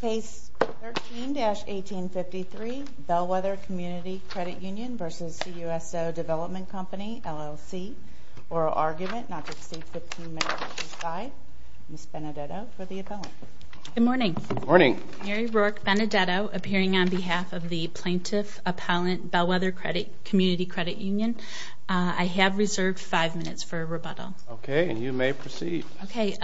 Phase 13-1853, Bellwether Community Credit Union v. CUSO Development Company LLC. Oral argument not to exceed 15 minutes. Ms. Benedetto for the appellant. Good morning. Mary Rourke Benedetto appearing on behalf of the plaintiff appellant Bellwether Community Credit Union. I have reserved five minutes for rebuttal. Okay and you may proceed. Okay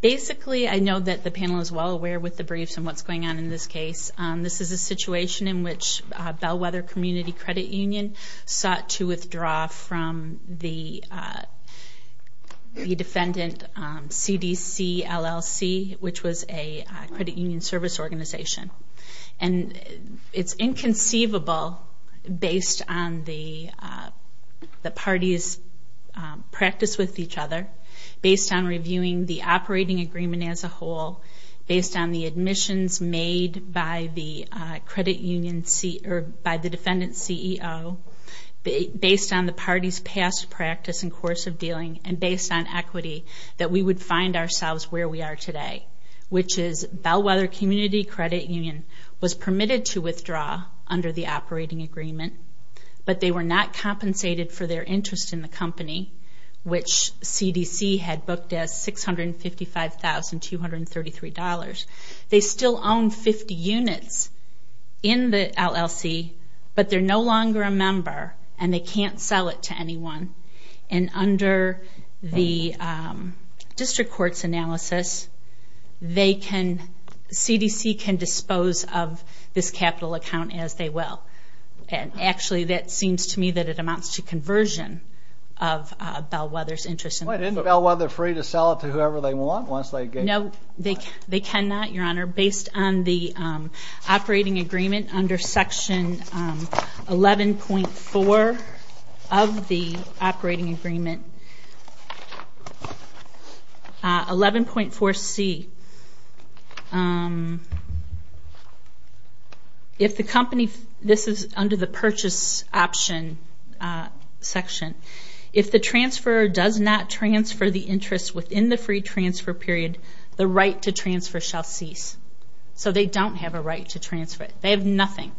basically I know that the panel is well aware with the briefs and what's going on in this case. This is a situation in which Bellwether Community Credit Union sought to withdraw from the defendant CDC LLC which was a credit union service organization. And it's inconceivable based on the party's practice with each other, based on reviewing the operating agreement as a whole, based on the admissions made by the defendant CEO, based on the party's past practice and course of dealing, and based on equity that we would find ourselves where we are today. Which is Bellwether Community Credit Union was permitted to withdraw under the operating agreement. But they were not compensated for their interest in the company which CDC had booked as $655,233. They still own 50 units in the LLC but they're no longer a member and they can't sell it to anyone. And under the district court's analysis they can, CDC can dispose of this capital account as they will. And actually that seems to me that it amounts to conversion of Bellwether's interest in the company. Wait, isn't Bellwether free to sell it to whoever they want once they get? No, they cannot your honor. Based on the operating agreement under section 11.4 of the 11.4C, if the company, this is under the purchase option section, if the transfer does not transfer the interest within the free transfer period, the right to transfer shall cease. So they don't have a right to transfer it. They have nothing.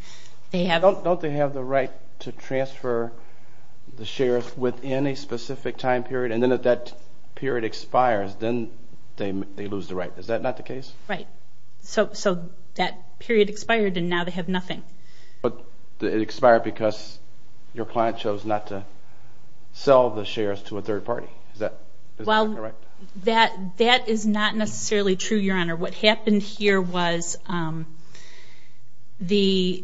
Don't they have the right to transfer the shares within a specific time period and then if that period expires then they lose the right. Is that not the case? Right. So that period expired and now they have nothing. But it expired because your client chose not to sell the shares to a third party. Is that correct? Well, that is not necessarily true your honor. What happened here was the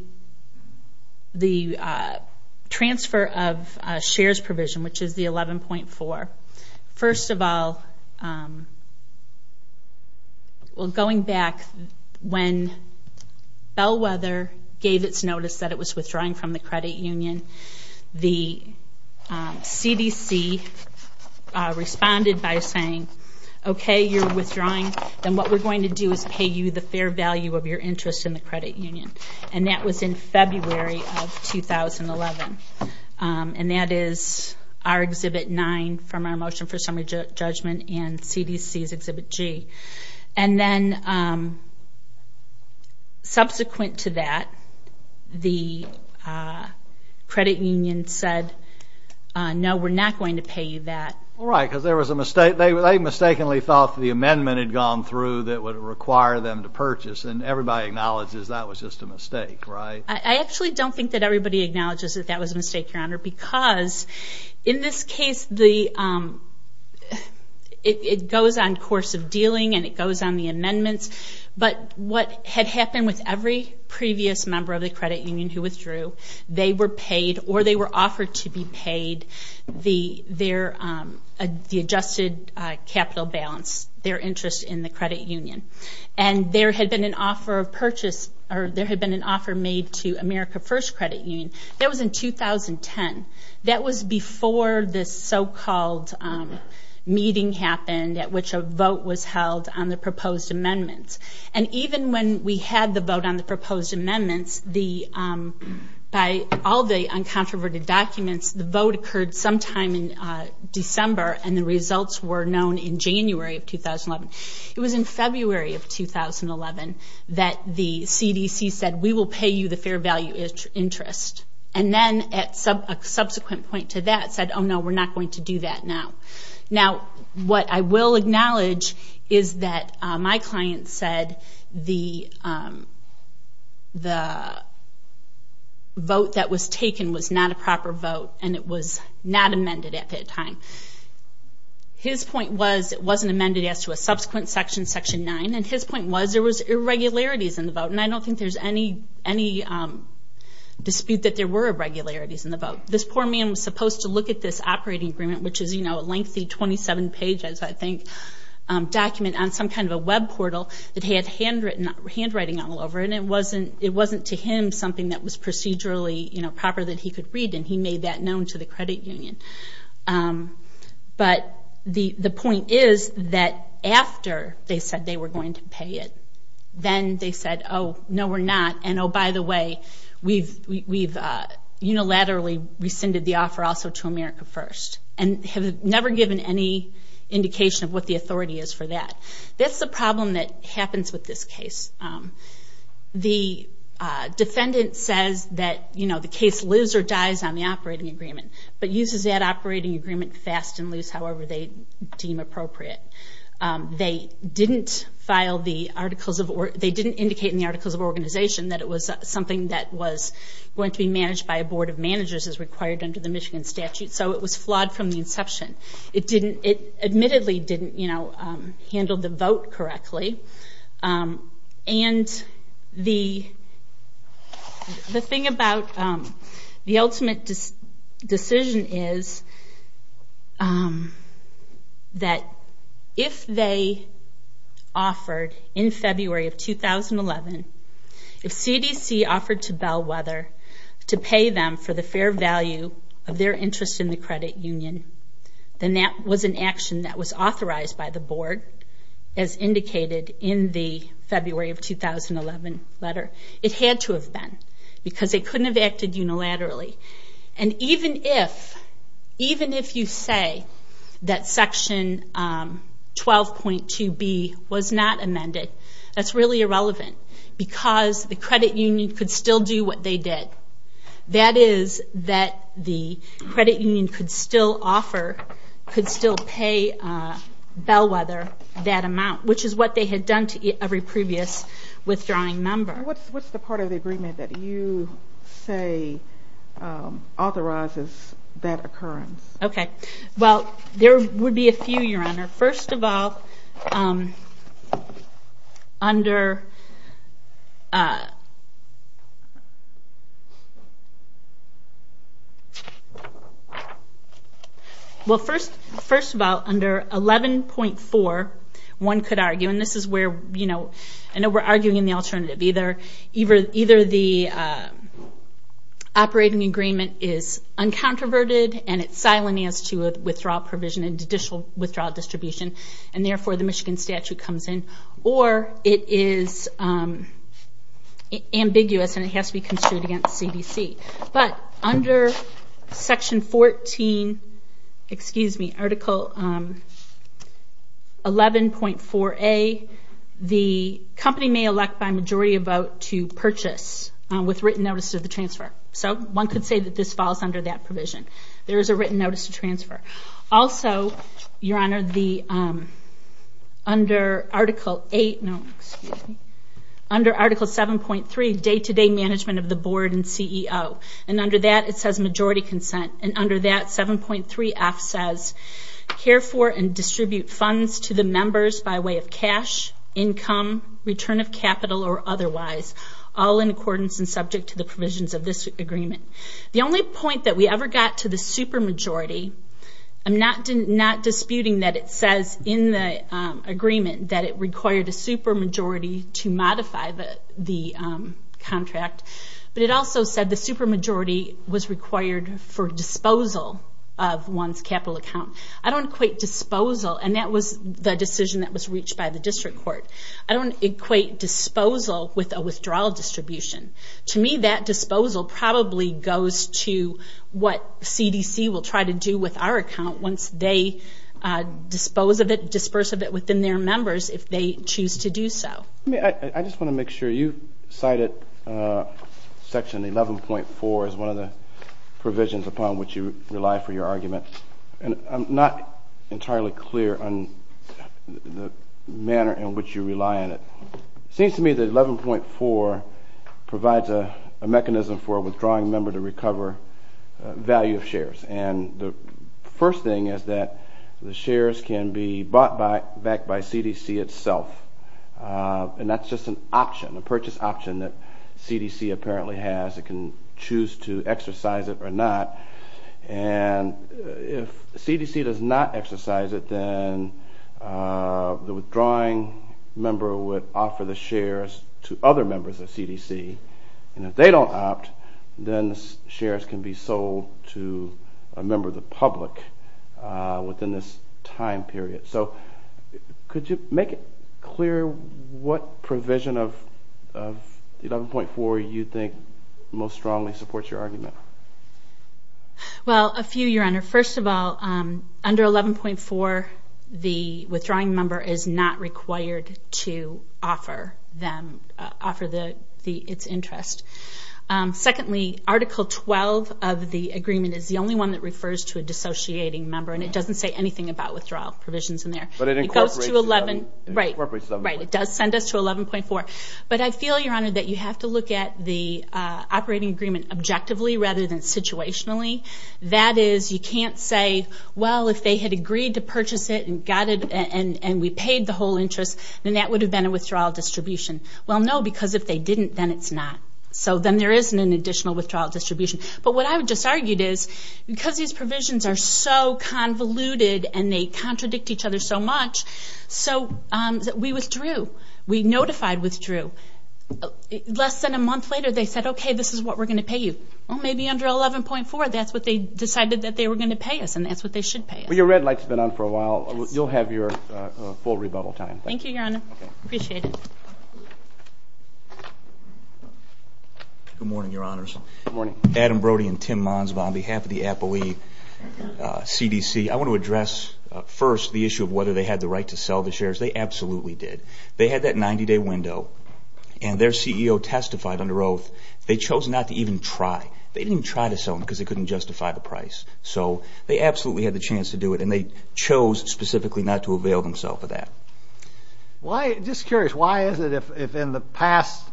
transfer of shares provision, which is the 11.4, first of all, going back when Bellwether gave its notice that it was withdrawing from the credit union, the CDC responded by saying, okay, you're withdrawing, then what we're going to do is pay you the fair value of your interest in the credit union. And that was in February of 2011. And that is our exhibit 9 from our motion for summary judgment and CDC's exhibit G. And then subsequent to that, the credit union said, no, we're not going to pay you that. Right, because there was a mistake. They mistakenly thought the amendment had gone through that would require them to purchase and everybody acknowledges that was just a mistake, right? I actually don't think that everybody acknowledges that that was a mistake, your honor, because in this case, the it goes on course of dealing and it goes on the amendments. But what had happened with every previous member of the credit union who withdrew, they were paid or they were offered to be paid the adjusted capital balance, their interest in the credit union. And there had been an offer of purchase, or there had been an offer made to America First Credit Union. That was in 2010. That was before this so-called meeting happened at which a vote was held on the proposed amendments. And even when we had the vote on the proposed amendments, by all the uncontroverted documents, the vote occurred sometime in December and the results were known in January of 2011. It was in February of 2011 that the CDC said, we will pay you the fair value interest. And then at a subsequent point to that said, oh no, we're not going to do that now. Now, what I will acknowledge is that my client said the vote that was taken was not a proper vote and it was not amended at that time. His point was it wasn't amended as to a subsequent section, section nine. And his point was there was irregularities in the vote. And I don't think there's any dispute that there were irregularities in the vote. This poor man was supposed to look at this operating agreement, which is, you know, a length of time, but I don't think there's any dispute that there were irregularities in the vote. And he had a lengthy, 27 pages, I think, document on some kind of a web portal that he had handwriting all over. And it wasn't to him something that was procedurally, you know, proper that he could read. And he made that known to the credit union. But the point is that after they said they were going to pay it, then they said, oh, no, we're not. And oh, by the way, we've unilaterally rescinded the offer also to America First. And have never given any indication of what the authority is for that. That's the problem that happens with this case. The defendant says that, you know, the case lives or dies on the operating agreement, but uses that operating agreement fast and loose however they deem appropriate. They didn't file the articles of, they didn't indicate in the articles of organization that it was something that was going to be managed by a board of managers as required under the Michigan statute. So it was flawed from the inception. It admittedly didn't, you know, handle the vote correctly. And the thing about the ultimate decision is that if they offered in February of 2011, if CDC offered to Bellwether to pay them for the fair value of their interest in the credit union, then that was an action that was authorized by the board, as indicated in the February of 2011 letter. It had to have been, because they couldn't have acted unilaterally. And even if, even if you say that section 12.2B was not amended, that's really irrelevant. Because the credit union could still do what they did. That is that the credit union could still offer, could still pay Bellwether that amount, which is what they had done to every previous withdrawing member. What's the part of the agreement that you say authorizes that occurrence? Okay. Well, there would be a few, Your Honor. First of all, under Well, first of all, under 11.4, one could argue, and this is where, you know, I know we're arguing in the alternative. Either the operating agreement is uncontroverted and it's silent as to withdrawal provision and judicial withdrawal distribution, and therefore the Michigan statute comes in. Or it is ambiguous and it has to be construed against CDC. But under section 14, excuse me, article 11.4A, the company may elect by majority of vote to purchase with written notice of the transfer. So one could say that this falls under that provision. There is a written notice to transfer. Also, Your Honor, the, under article 8, no, excuse me, under article 7.3, day-to-day management of the board and CEO. And under that, it says majority consent. And under that, 7.3F says, care for and distribute funds to the members by way of cash, income, return of capital, or otherwise, all in accordance and subject to the provisions of this agreement. The only point that we ever got to the supermajority, I'm not disputing that it says in the agreement that it required a supermajority to modify the contract. But it also said the supermajority was required for disposal of one's capital account. I don't equate disposal, and that was the decision that was reached by the district court. I don't equate disposal with a withdrawal distribution. To me, that disposal probably goes to what CDC will try to do with our account once they dispose of it, disperse of it within their members if they choose to do so. I just want to make sure you cited section 11.4 as one of the provisions upon which you rely for your argument. And I'm not entirely clear on the manner in which you rely on it. It seems to me that 11.4 provides a mechanism for a withdrawing member to recover value of shares. And the first thing is that the shares can be bought back by CDC itself. And that's just an option, a purchase option that CDC apparently has. It can choose to exercise it or not. And if CDC does not exercise it, then the withdrawing member would offer the shares to other members of CDC. And if they don't opt, then the shares can be sold to a member of the public within this time period. So could you make it clear what provision of 11.4 you think most strongly supports your argument? Well, a few, Your Honor. First of all, under 11.4, the withdrawing member is not required to offer its interest. Secondly, Article 12 of the agreement is the only one that refers to a dissociating member, and it doesn't say anything about withdrawal provisions in there. It does send us to 11.4. But I feel, Your Honor, that you have to look at the operating agreement objectively rather than situationally. That is, you can't say, well, if they had agreed to purchase it and we paid the whole interest, then that would have been a withdrawal distribution. Well, no, because if they didn't, then it's not. So then there isn't an additional withdrawal distribution. But what I just argued is, because these provisions are so convoluted and they contradict each other so much, so we withdrew. We notified withdrew. Less than a month later, they said, okay, this is what we're going to pay you. Well, maybe under 11.4, that's what they decided that they were going to pay us, and that's what they should pay us. Well, your red light's been on for a while. You'll have your full rebuttal time. Thank you. Thank you, Your Honor. Appreciate it. Good morning, Your Honors. Good morning. Adam Brody and Tim Monsbaum on behalf of the ApoE CDC. I want to address first the issue of whether they had the right to sell the shares. They absolutely did. They had that 90-day window, and their CEO testified under oath. They chose not to even try. They didn't even try to sell them because they couldn't justify the price. So they absolutely had the chance to do it, and they chose specifically not to avail themselves of that. Just curious, why is it if in the past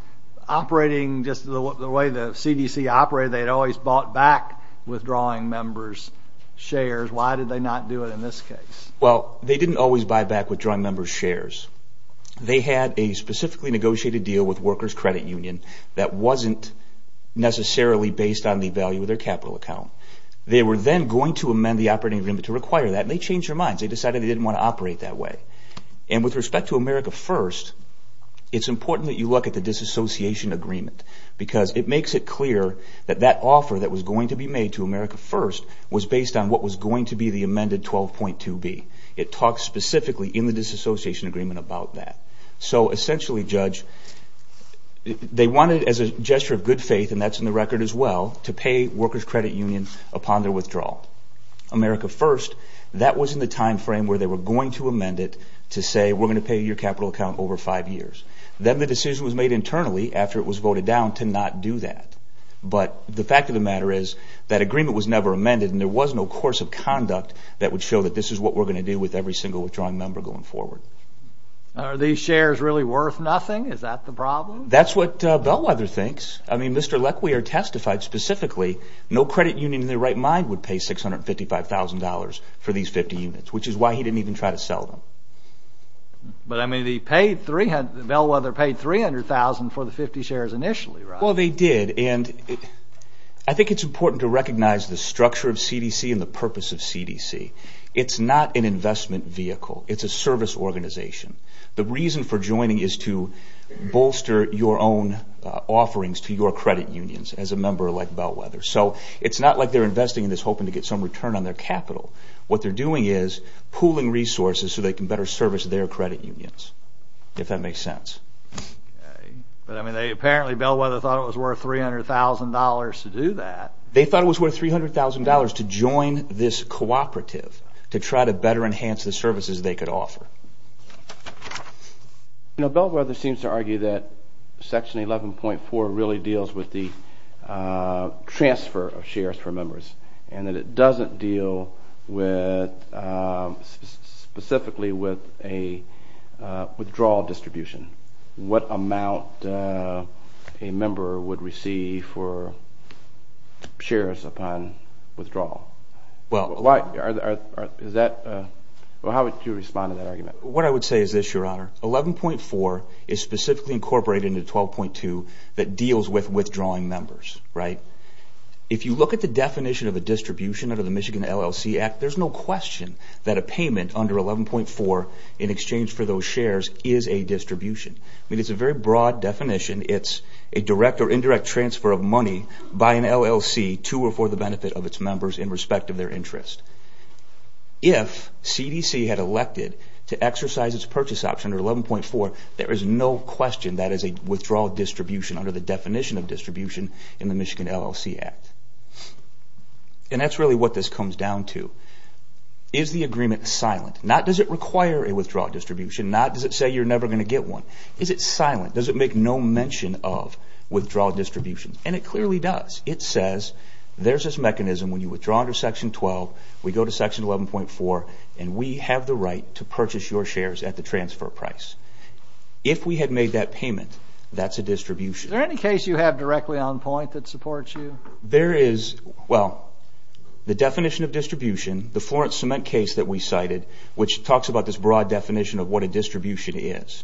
operating just the way the CDC operated, they had always bought back withdrawing members' shares, why did they not do it in this case? Well, they didn't always buy back withdrawing members' shares. They had a specifically negotiated deal with workers' credit union that wasn't necessarily based on the value of their capital account. They were then going to amend the operating agreement to require that, and they changed their minds. They decided they didn't want to operate that way. And with respect to America First, it's important that you look at the disassociation agreement because it makes it clear that that offer that was going to be made to America First was based on what was going to be the amended 12.2B. It talks specifically in the disassociation agreement about that. So essentially, Judge, they wanted as a gesture of good faith, and that's in the record as well, to pay workers' credit union upon their withdrawal. America First, that was in the time frame where they were going to amend it to say, we're going to pay your capital account over five years. Then the decision was made internally after it was voted down to not do that. But the fact of the matter is that agreement was never amended, and there was no course of conduct that would show that this is what we're going to do with every single withdrawing member going forward. Are these shares really worth nothing? Is that the problem? That's what Bellwether thinks. I mean, Mr. Leckweyer testified specifically no credit union in their right mind would pay $655,000 for these 50 units, which is why he didn't even try to sell them. But I mean, Bellwether paid $300,000 for the 50 shares initially, right? Well, they did, and I think it's important to recognize the structure of CDC and the purpose of CDC. It's not an investment vehicle. It's a service organization. The reason for joining is to bolster your own offerings to your credit unions as a member like Bellwether. So it's not like they're investing in this hoping to get some return on their capital. What they're doing is pooling resources so they can better service their credit unions, if that makes sense. But I mean, apparently Bellwether thought it was worth $300,000 to do that. They thought it was worth $300,000 to join this cooperative to try to better enhance the services they could offer. You know, Bellwether seems to argue that Section 11.4 really deals with the transfer of shares for members and that it doesn't deal specifically with a withdrawal distribution. What amount a member would receive for shares upon withdrawal? Well, how would you respond to that argument? What I would say is this, Your Honor. 11.4 is specifically incorporated into 12.2 that deals with withdrawing members, right? If you look at the definition of a distribution under the Michigan LLC Act, there's no question that a payment under 11.4 in exchange for those shares is a distribution. I mean, it's a very broad definition. It's a direct or indirect transfer of money by an LLC to or for the benefit of its members in respect of their interest. If CDC had elected to exercise its purchase option under 11.4, there is no question that is a withdrawal distribution under the definition of distribution in the Michigan LLC Act. And that's really what this comes down to. Is the agreement silent? Does it require a withdrawal distribution? Does it say you're never going to get one? Is it silent? Does it make no mention of withdrawal distribution? And it clearly does. It says there's this mechanism when you withdraw under Section 12, we go to Section 11.4, and we have the right to purchase your shares at the transfer price. If we had made that payment, that's a distribution. Is there any case you have directly on point that supports you? There is. Well, the definition of distribution, the Florence Cement case that we cited, which talks about this broad definition of what a distribution is.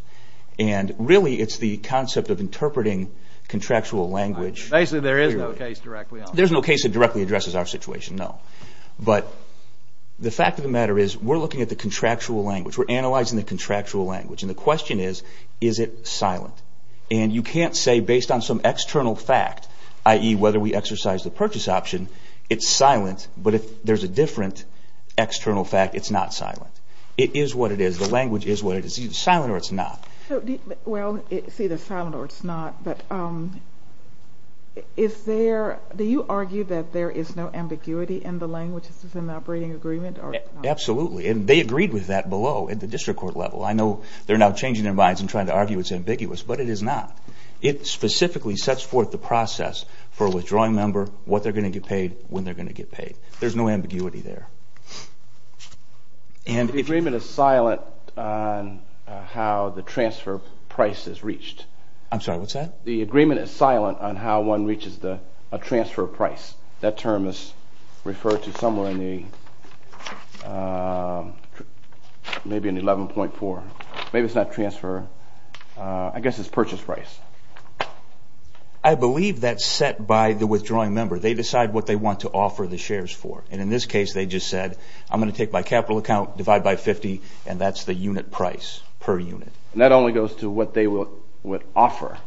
And really, it's the concept of interpreting contractual language. Basically, there is no case directly on that. There's no case that directly addresses our situation, no. But the fact of the matter is we're looking at the contractual language. We're analyzing the contractual language. And the question is, is it silent? And you can't say based on some external fact, i.e., whether we exercise the purchase option, it's silent. But if there's a different external fact, it's not silent. It is what it is. The language is what it is. It's either silent or it's not. Well, it's either silent or it's not. But do you argue that there is no ambiguity in the language? Is this an operating agreement? Absolutely. And they agreed with that below at the district court level. I know they're now changing their minds and trying to argue it's ambiguous. But it is not. It specifically sets forth the process for a withdrawing member, what they're going to get paid, when they're going to get paid. There's no ambiguity there. The agreement is silent on how the transfer price is reached. I'm sorry. What's that? The agreement is silent on how one reaches a transfer price. That term is referred to somewhere in the, maybe in 11.4. Maybe it's not transfer. I guess it's purchase price. I believe that's set by the withdrawing member. They decide what they want to offer the shares for. And in this case, they just said, I'm going to take my capital account, divide by 50, and that's the unit price per unit. And that only goes to what they would offer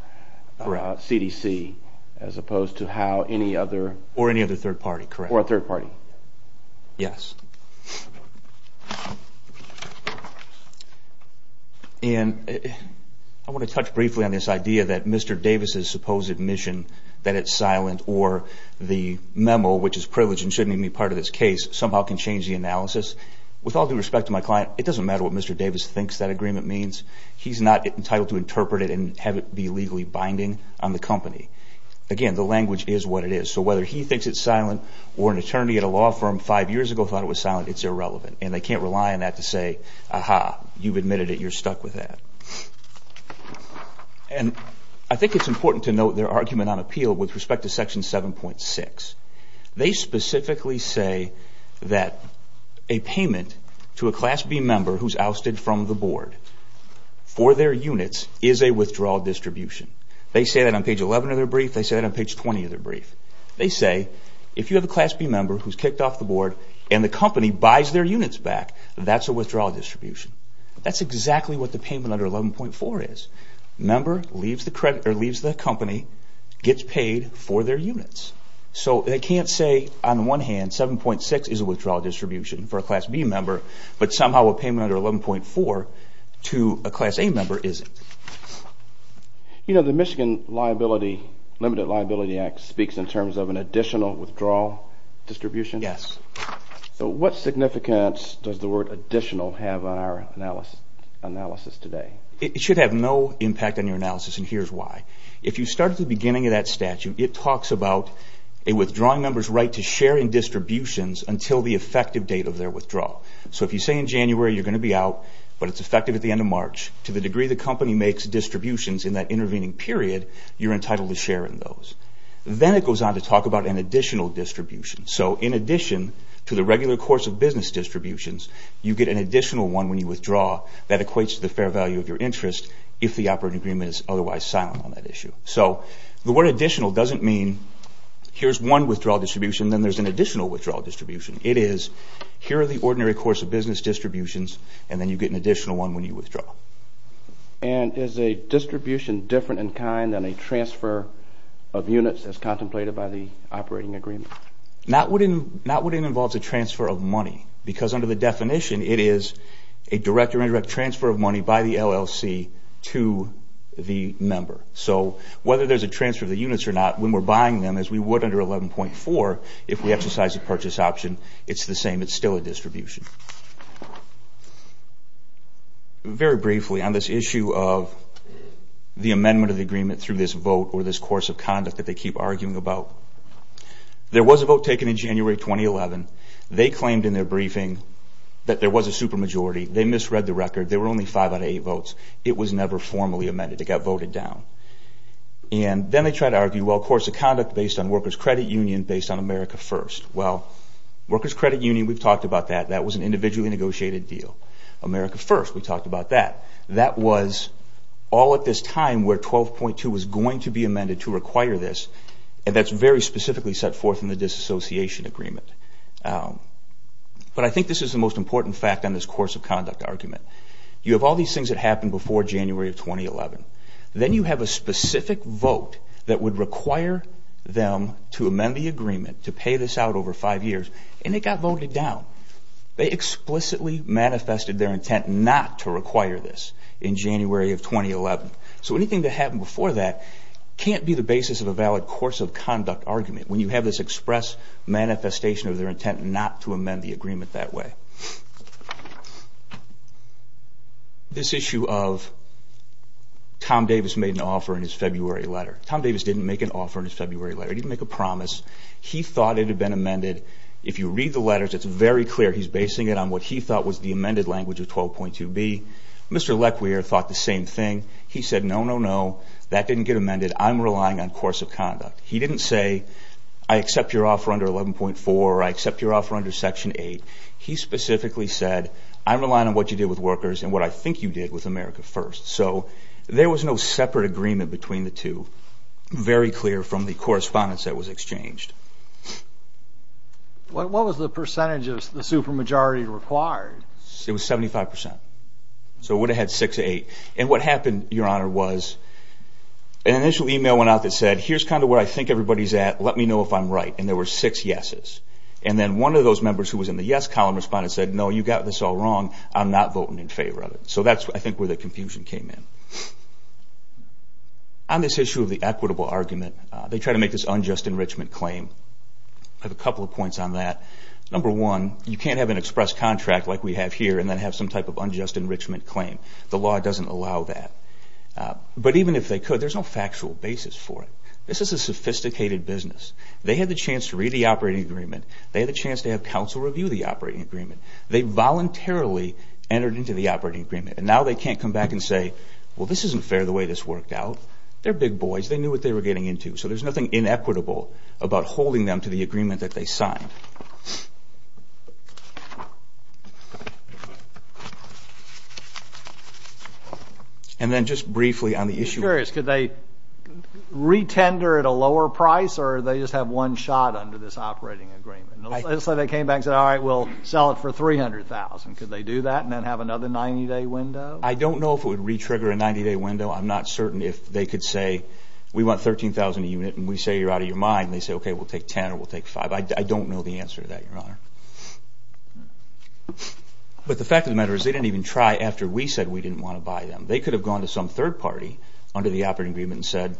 for CDC as opposed to how any other? Or any other third party, correct. Or a third party. Yes. And I want to touch briefly on this idea that Mr. Davis' supposed admission that it's silent or the memo, which is privileged and shouldn't even be part of this case, somehow can change the analysis. With all due respect to my client, it doesn't matter what Mr. Davis thinks that agreement means. He's not entitled to interpret it and have it be legally binding on the company. Again, the language is what it is. So whether he thinks it's silent or an attorney at a law firm five years ago thought it was silent, it's irrelevant. And they can't rely on that to say, aha, you've admitted it. You're stuck with that. And I think it's important to note their argument on appeal with respect to Section 7.6. They specifically say that a payment to a Class B member who's ousted from the board for their units is a withdrawal distribution. They say that on page 11 of their brief. They say that on page 20 of their brief. They say if you have a Class B member who's kicked off the board and the company buys their units back, that's a withdrawal distribution. That's exactly what the payment under 11.4 is. Member leaves the company, gets paid for their units. So they can't say on one hand 7.6 is a withdrawal distribution for a Class B member, but somehow a payment under 11.4 to a Class A member isn't. You know, the Michigan Limited Liability Act speaks in terms of an additional withdrawal distribution. Yes. So what significance does the word additional have on our analysis today? It should have no impact on your analysis, and here's why. If you start at the beginning of that statute, it talks about a withdrawing member's right to share in distributions until the effective date of their withdrawal. So if you say in January you're going to be out, but it's effective at the end of March, to the degree the company makes distributions in that intervening period, you're entitled to share in those. Then it goes on to talk about an additional distribution. So in addition to the regular course of business distributions, you get an additional one when you withdraw. That equates to the fair value of your interest if the operating agreement is otherwise silent on that issue. So the word additional doesn't mean here's one withdrawal distribution, then there's an additional withdrawal distribution. It is here are the ordinary course of business distributions, and then you get an additional one when you withdraw. And is a distribution different in kind than a transfer of units as contemplated by the operating agreement? Not when it involves a transfer of money, because under the definition it is a direct or indirect transfer of money by the LLC to the member. So whether there's a transfer of the units or not, when we're buying them, as we would under 11.4, if we exercise a purchase option, it's the same. It's still a distribution. Very briefly, on this issue of the amendment of the agreement through this vote or this course of conduct that they keep arguing about, there was a vote taken in January 2011. They claimed in their briefing that there was a supermajority. They misread the record. There were only five out of eight votes. It was never formally amended. It got voted down. And then they try to argue, well, of course, a conduct based on workers' credit union based on America First. Well, workers' credit union, we've talked about that. That was an individually negotiated deal. America First, we talked about that. That was all at this time where 12.2 was going to be amended to require this, and that's very specifically set forth in the disassociation agreement. But I think this is the most important fact on this course of conduct argument. You have all these things that happened before January of 2011. Then you have a specific vote that would require them to amend the agreement to pay this out over five years, and it got voted down. They explicitly manifested their intent not to require this in January of 2011. So anything that happened before that can't be the basis of a valid course of conduct argument when you have this express manifestation of their intent not to amend the agreement that way. This issue of Tom Davis made an offer in his February letter. Tom Davis didn't make an offer in his February letter. He didn't make a promise. He thought it had been amended. If you read the letters, it's very clear he's basing it on what he thought was the amended language of 12.2b. Mr. Lecquier thought the same thing. He said, no, no, no, that didn't get amended. I'm relying on course of conduct. He didn't say, I accept your offer under 11.4, or I accept your offer under Section 8. He specifically said, I'm relying on what you did with workers and what I think you did with America First. So there was no separate agreement between the two, very clear from the correspondence that was exchanged. What was the percentage of the supermajority required? It was 75%. So it would have had six to eight. And what happened, Your Honor, was an initial email went out that said, here's kind of where I think everybody's at. Let me know if I'm right. And there were six yeses. And then one of those members who was in the yes column responded and said, no, you got this all wrong. I'm not voting in favor of it. So that's, I think, where the confusion came in. On this issue of the equitable argument, they try to make this unjust enrichment claim. I have a couple of points on that. Number one, you can't have an express contract like we have here and then have some type of unjust enrichment claim. The law doesn't allow that. But even if they could, there's no factual basis for it. This is a sophisticated business. They had the chance to read the operating agreement. They had a chance to have counsel review the operating agreement. They voluntarily entered into the operating agreement. And now they can't come back and say, well, this isn't fair the way this worked out. They're big boys. They knew what they were getting into. So there's nothing inequitable about holding them to the agreement that they signed. And then just briefly on the issue... I'm curious. Could they re-tender at a lower price or they just have one shot under this operating agreement? Let's say they came back and said, all right, we'll sell it for $300,000. Could they do that and then have another 90-day window? I don't know if it would re-trigger a 90-day window. I'm not certain if they could say, we want $13,000 a unit and we say you're out of your mind, and they say, okay, we'll take $10,000 or we'll take $5,000. I don't know the answer to that, Your Honor. But the fact of the matter is they didn't even try after we said we didn't want to buy them. They could have gone to some third party under the operating agreement and said,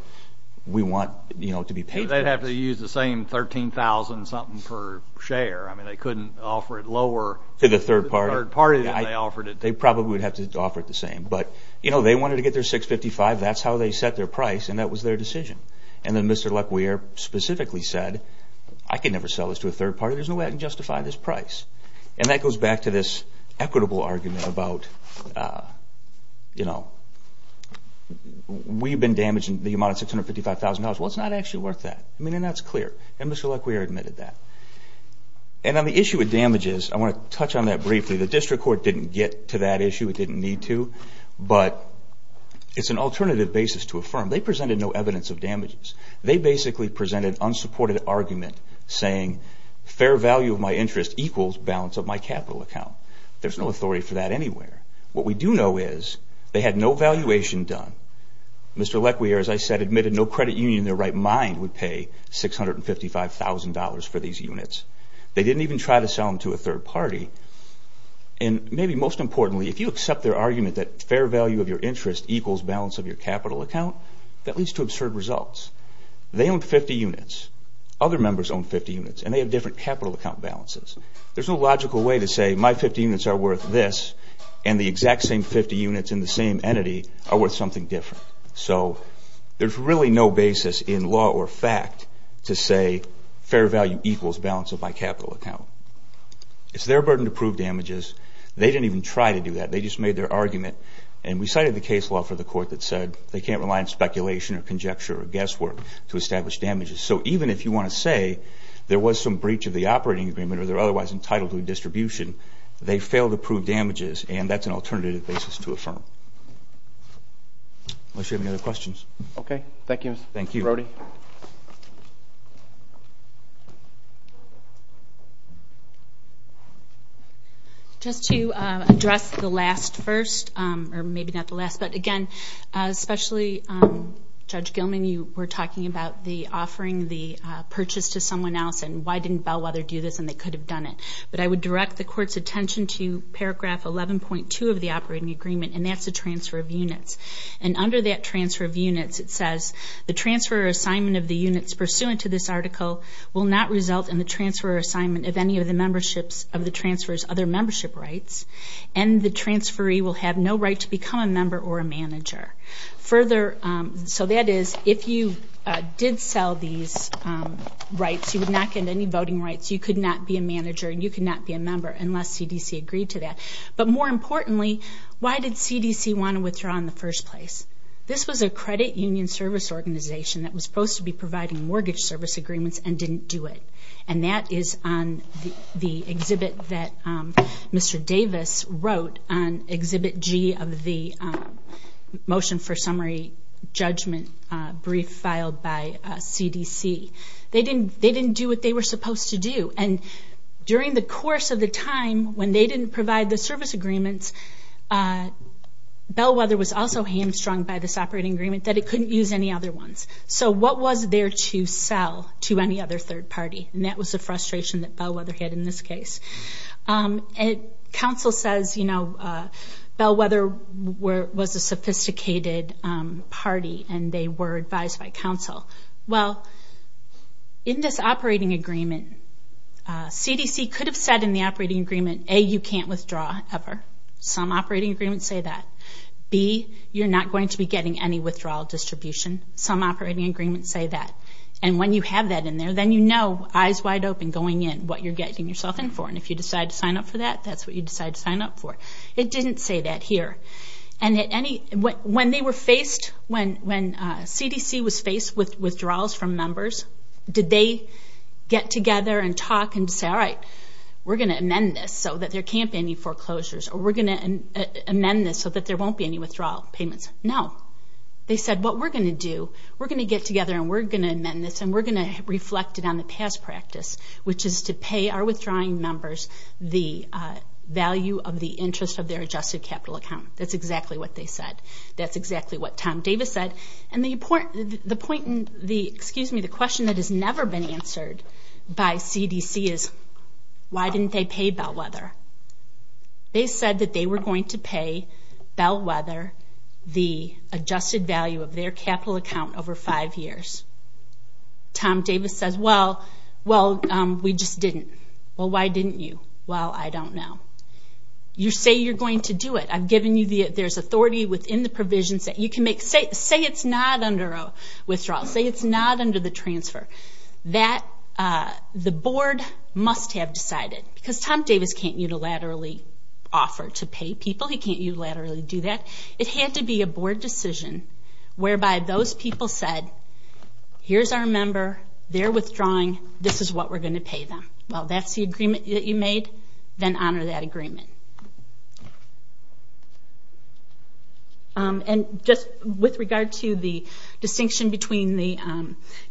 we want, you know, to be paid for this. They'd have to use the same $13,000-something per share. I mean, they couldn't offer it lower... To the third party. ...to the third party than they offered it to. They probably would have to offer it the same. But, you know, they wanted to get their $655,000. That's how they set their price, and that was their decision. And then Mr. Lecquier specifically said, I can never sell this to a third party. There's no way I can justify this price. And that goes back to this equitable argument about, you know, we've been damaging the amount of $655,000. Well, it's not actually worth that. I mean, and that's clear. And Mr. Lecquier admitted that. And on the issue of damages, I want to touch on that briefly. The district court didn't get to that issue. It didn't need to. But it's an alternative basis to affirm. They presented no evidence of damages. They basically presented unsupported argument saying, fair value of my interest equals balance of my capital account. There's no authority for that anywhere. What we do know is they had no valuation done. Mr. Lecquier, as I said, admitted no credit union in their right mind would pay $655,000 for these units. They didn't even try to sell them to a third party. And maybe most importantly, if you accept their argument that fair value of your interest equals balance of your capital account, that leads to absurd results. They owned 50 units. Other members owned 50 units. And they have different capital account balances. There's no logical way to say my 50 units are worth this and the exact same 50 units in the same entity are worth something different. So there's really no basis in law or fact to say fair value equals balance of my capital account. It's their burden to prove damages. They didn't even try to do that. They just made their argument. And we cited the case law for the court that said they can't rely on speculation or conjecture or guesswork to establish damages. So even if you want to say there was some breach of the operating agreement or they're otherwise entitled to a distribution, they failed to prove damages and that's an alternative basis to affirm. Unless you have any other questions. Okay. Thank you, Mr. Brody. Just to address the last first, or maybe not the last, but again, especially Judge Gilman, when you were talking about the offering the purchase to someone else and why didn't Bellwether do this and they could have done it. But I would direct the court's attention to paragraph 11.2 of the operating agreement and that's the transfer of units. And under that transfer of units, it says, the transfer assignment of the units pursuant to this article will not result in the transfer assignment of any of the memberships of the transfers other membership rights. And the transferee will have no right to become a member or a manager. Further, so that is, if you did sell these rights, you would not get any voting rights, you could not be a manager and you could not be a member unless CDC agreed to that. But more importantly, why did CDC want to withdraw in the first place? This was a credit union service organization that was supposed to be providing mortgage service agreements and didn't do it. And that is on the exhibit that Mr. Davis wrote on exhibit G of the motion for summary judgment brief filed by CDC. They didn't do what they were supposed to do and during the course of the time when they didn't provide the service agreements, Bellwether was also hamstrung by this operating agreement that it couldn't use any other ones. So what was there to sell to any other third party? And that was the frustration that Bellwether had in this case. And counsel says, you know, Bellwether was a sophisticated party and they were advised by counsel. Well, in this operating agreement, CDC could have said in the operating agreement, A, you can't withdraw ever. Some operating agreements say that. B, you're not going to be getting any withdrawal distribution. Some operating agreements say that. And when you have that in there, then you know, eyes wide open, what you're getting yourself in for. And if you decide to sign up for that, that's what you decide to sign up for. It didn't say that here. And when they were faced, when CDC was faced with withdrawals from members, did they get together and talk and say, all right, we're going to amend this so that there can't be any foreclosures or we're going to amend this so that there won't be any withdrawal payments? No. They said, what we're going to do, we're going to get together and we're going to amend this and we're going to reflect it on the past practice, which is to pay our withdrawing members the value of the interest of their adjusted capital account. That's exactly what they said. That's exactly what Tom Davis said. And the point in the, excuse me, the question that has never been answered by CDC is, why didn't they pay Bellwether? They said that they were going to pay Bellwether the adjusted value of their capital account over five years. Tom Davis says, well, we just didn't. Well, why didn't you? Well, I don't know. You say you're going to do it. I've given you the, there's authority within the provisions that you can make. Say it's not under a withdrawal. Say it's not under the transfer. That, the board must have decided. Because Tom Davis can't unilaterally offer to pay people, he can't unilaterally do that. It had to be a board decision whereby those people said, here's our member. They're withdrawing. This is what we're going to pay them. Well, that's the agreement that you made. Then honor that agreement. And just with regard to the distinction between the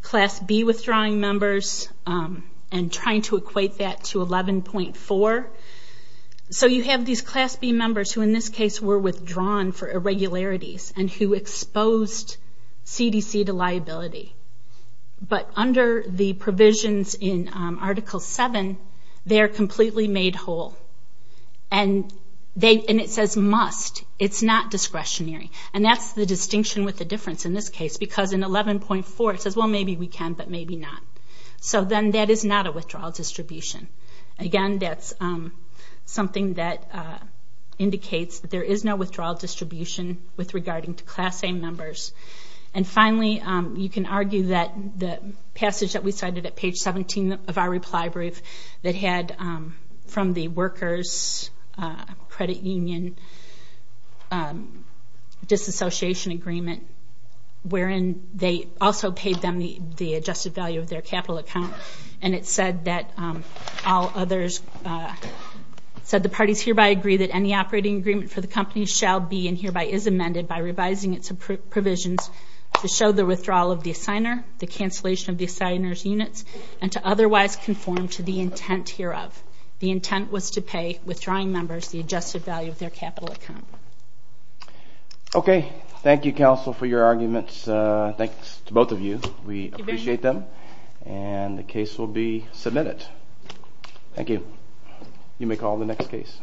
Class B withdrawing members and trying to equate that to 11.4. So you have these Class B members who in this case were withdrawn for irregularities and who exposed CDC to liability. But under the provisions in Article 7, they're completely made whole. And they, and it says must. It's not discretionary. And that's the distinction with the difference in this case because in 11.4 it says, well, maybe we can, but maybe not. So then that is not a withdrawal distribution. Again, that's something that indicates that there is no withdrawal distribution with regarding to Class A members. And finally, you can argue that the passage that we cited at page 17 of our reply brief that had from the workers credit union disassociation agreement wherein they also paid them the adjusted value of their capital account. And it said that all others, said the parties hereby agree that any operating agreement for the company shall be and hereby is amended by revising its provisions to show the withdrawal of the assigner, the cancellation of the assigner's units, and to otherwise conform to the intent hereof. The intent was to pay withdrawing members the adjusted value of their capital account. Okay. Thank you, counsel, for your arguments. Thanks to both of you. We appreciate them. And the case will be submitted. Thank you. You may call on the next case.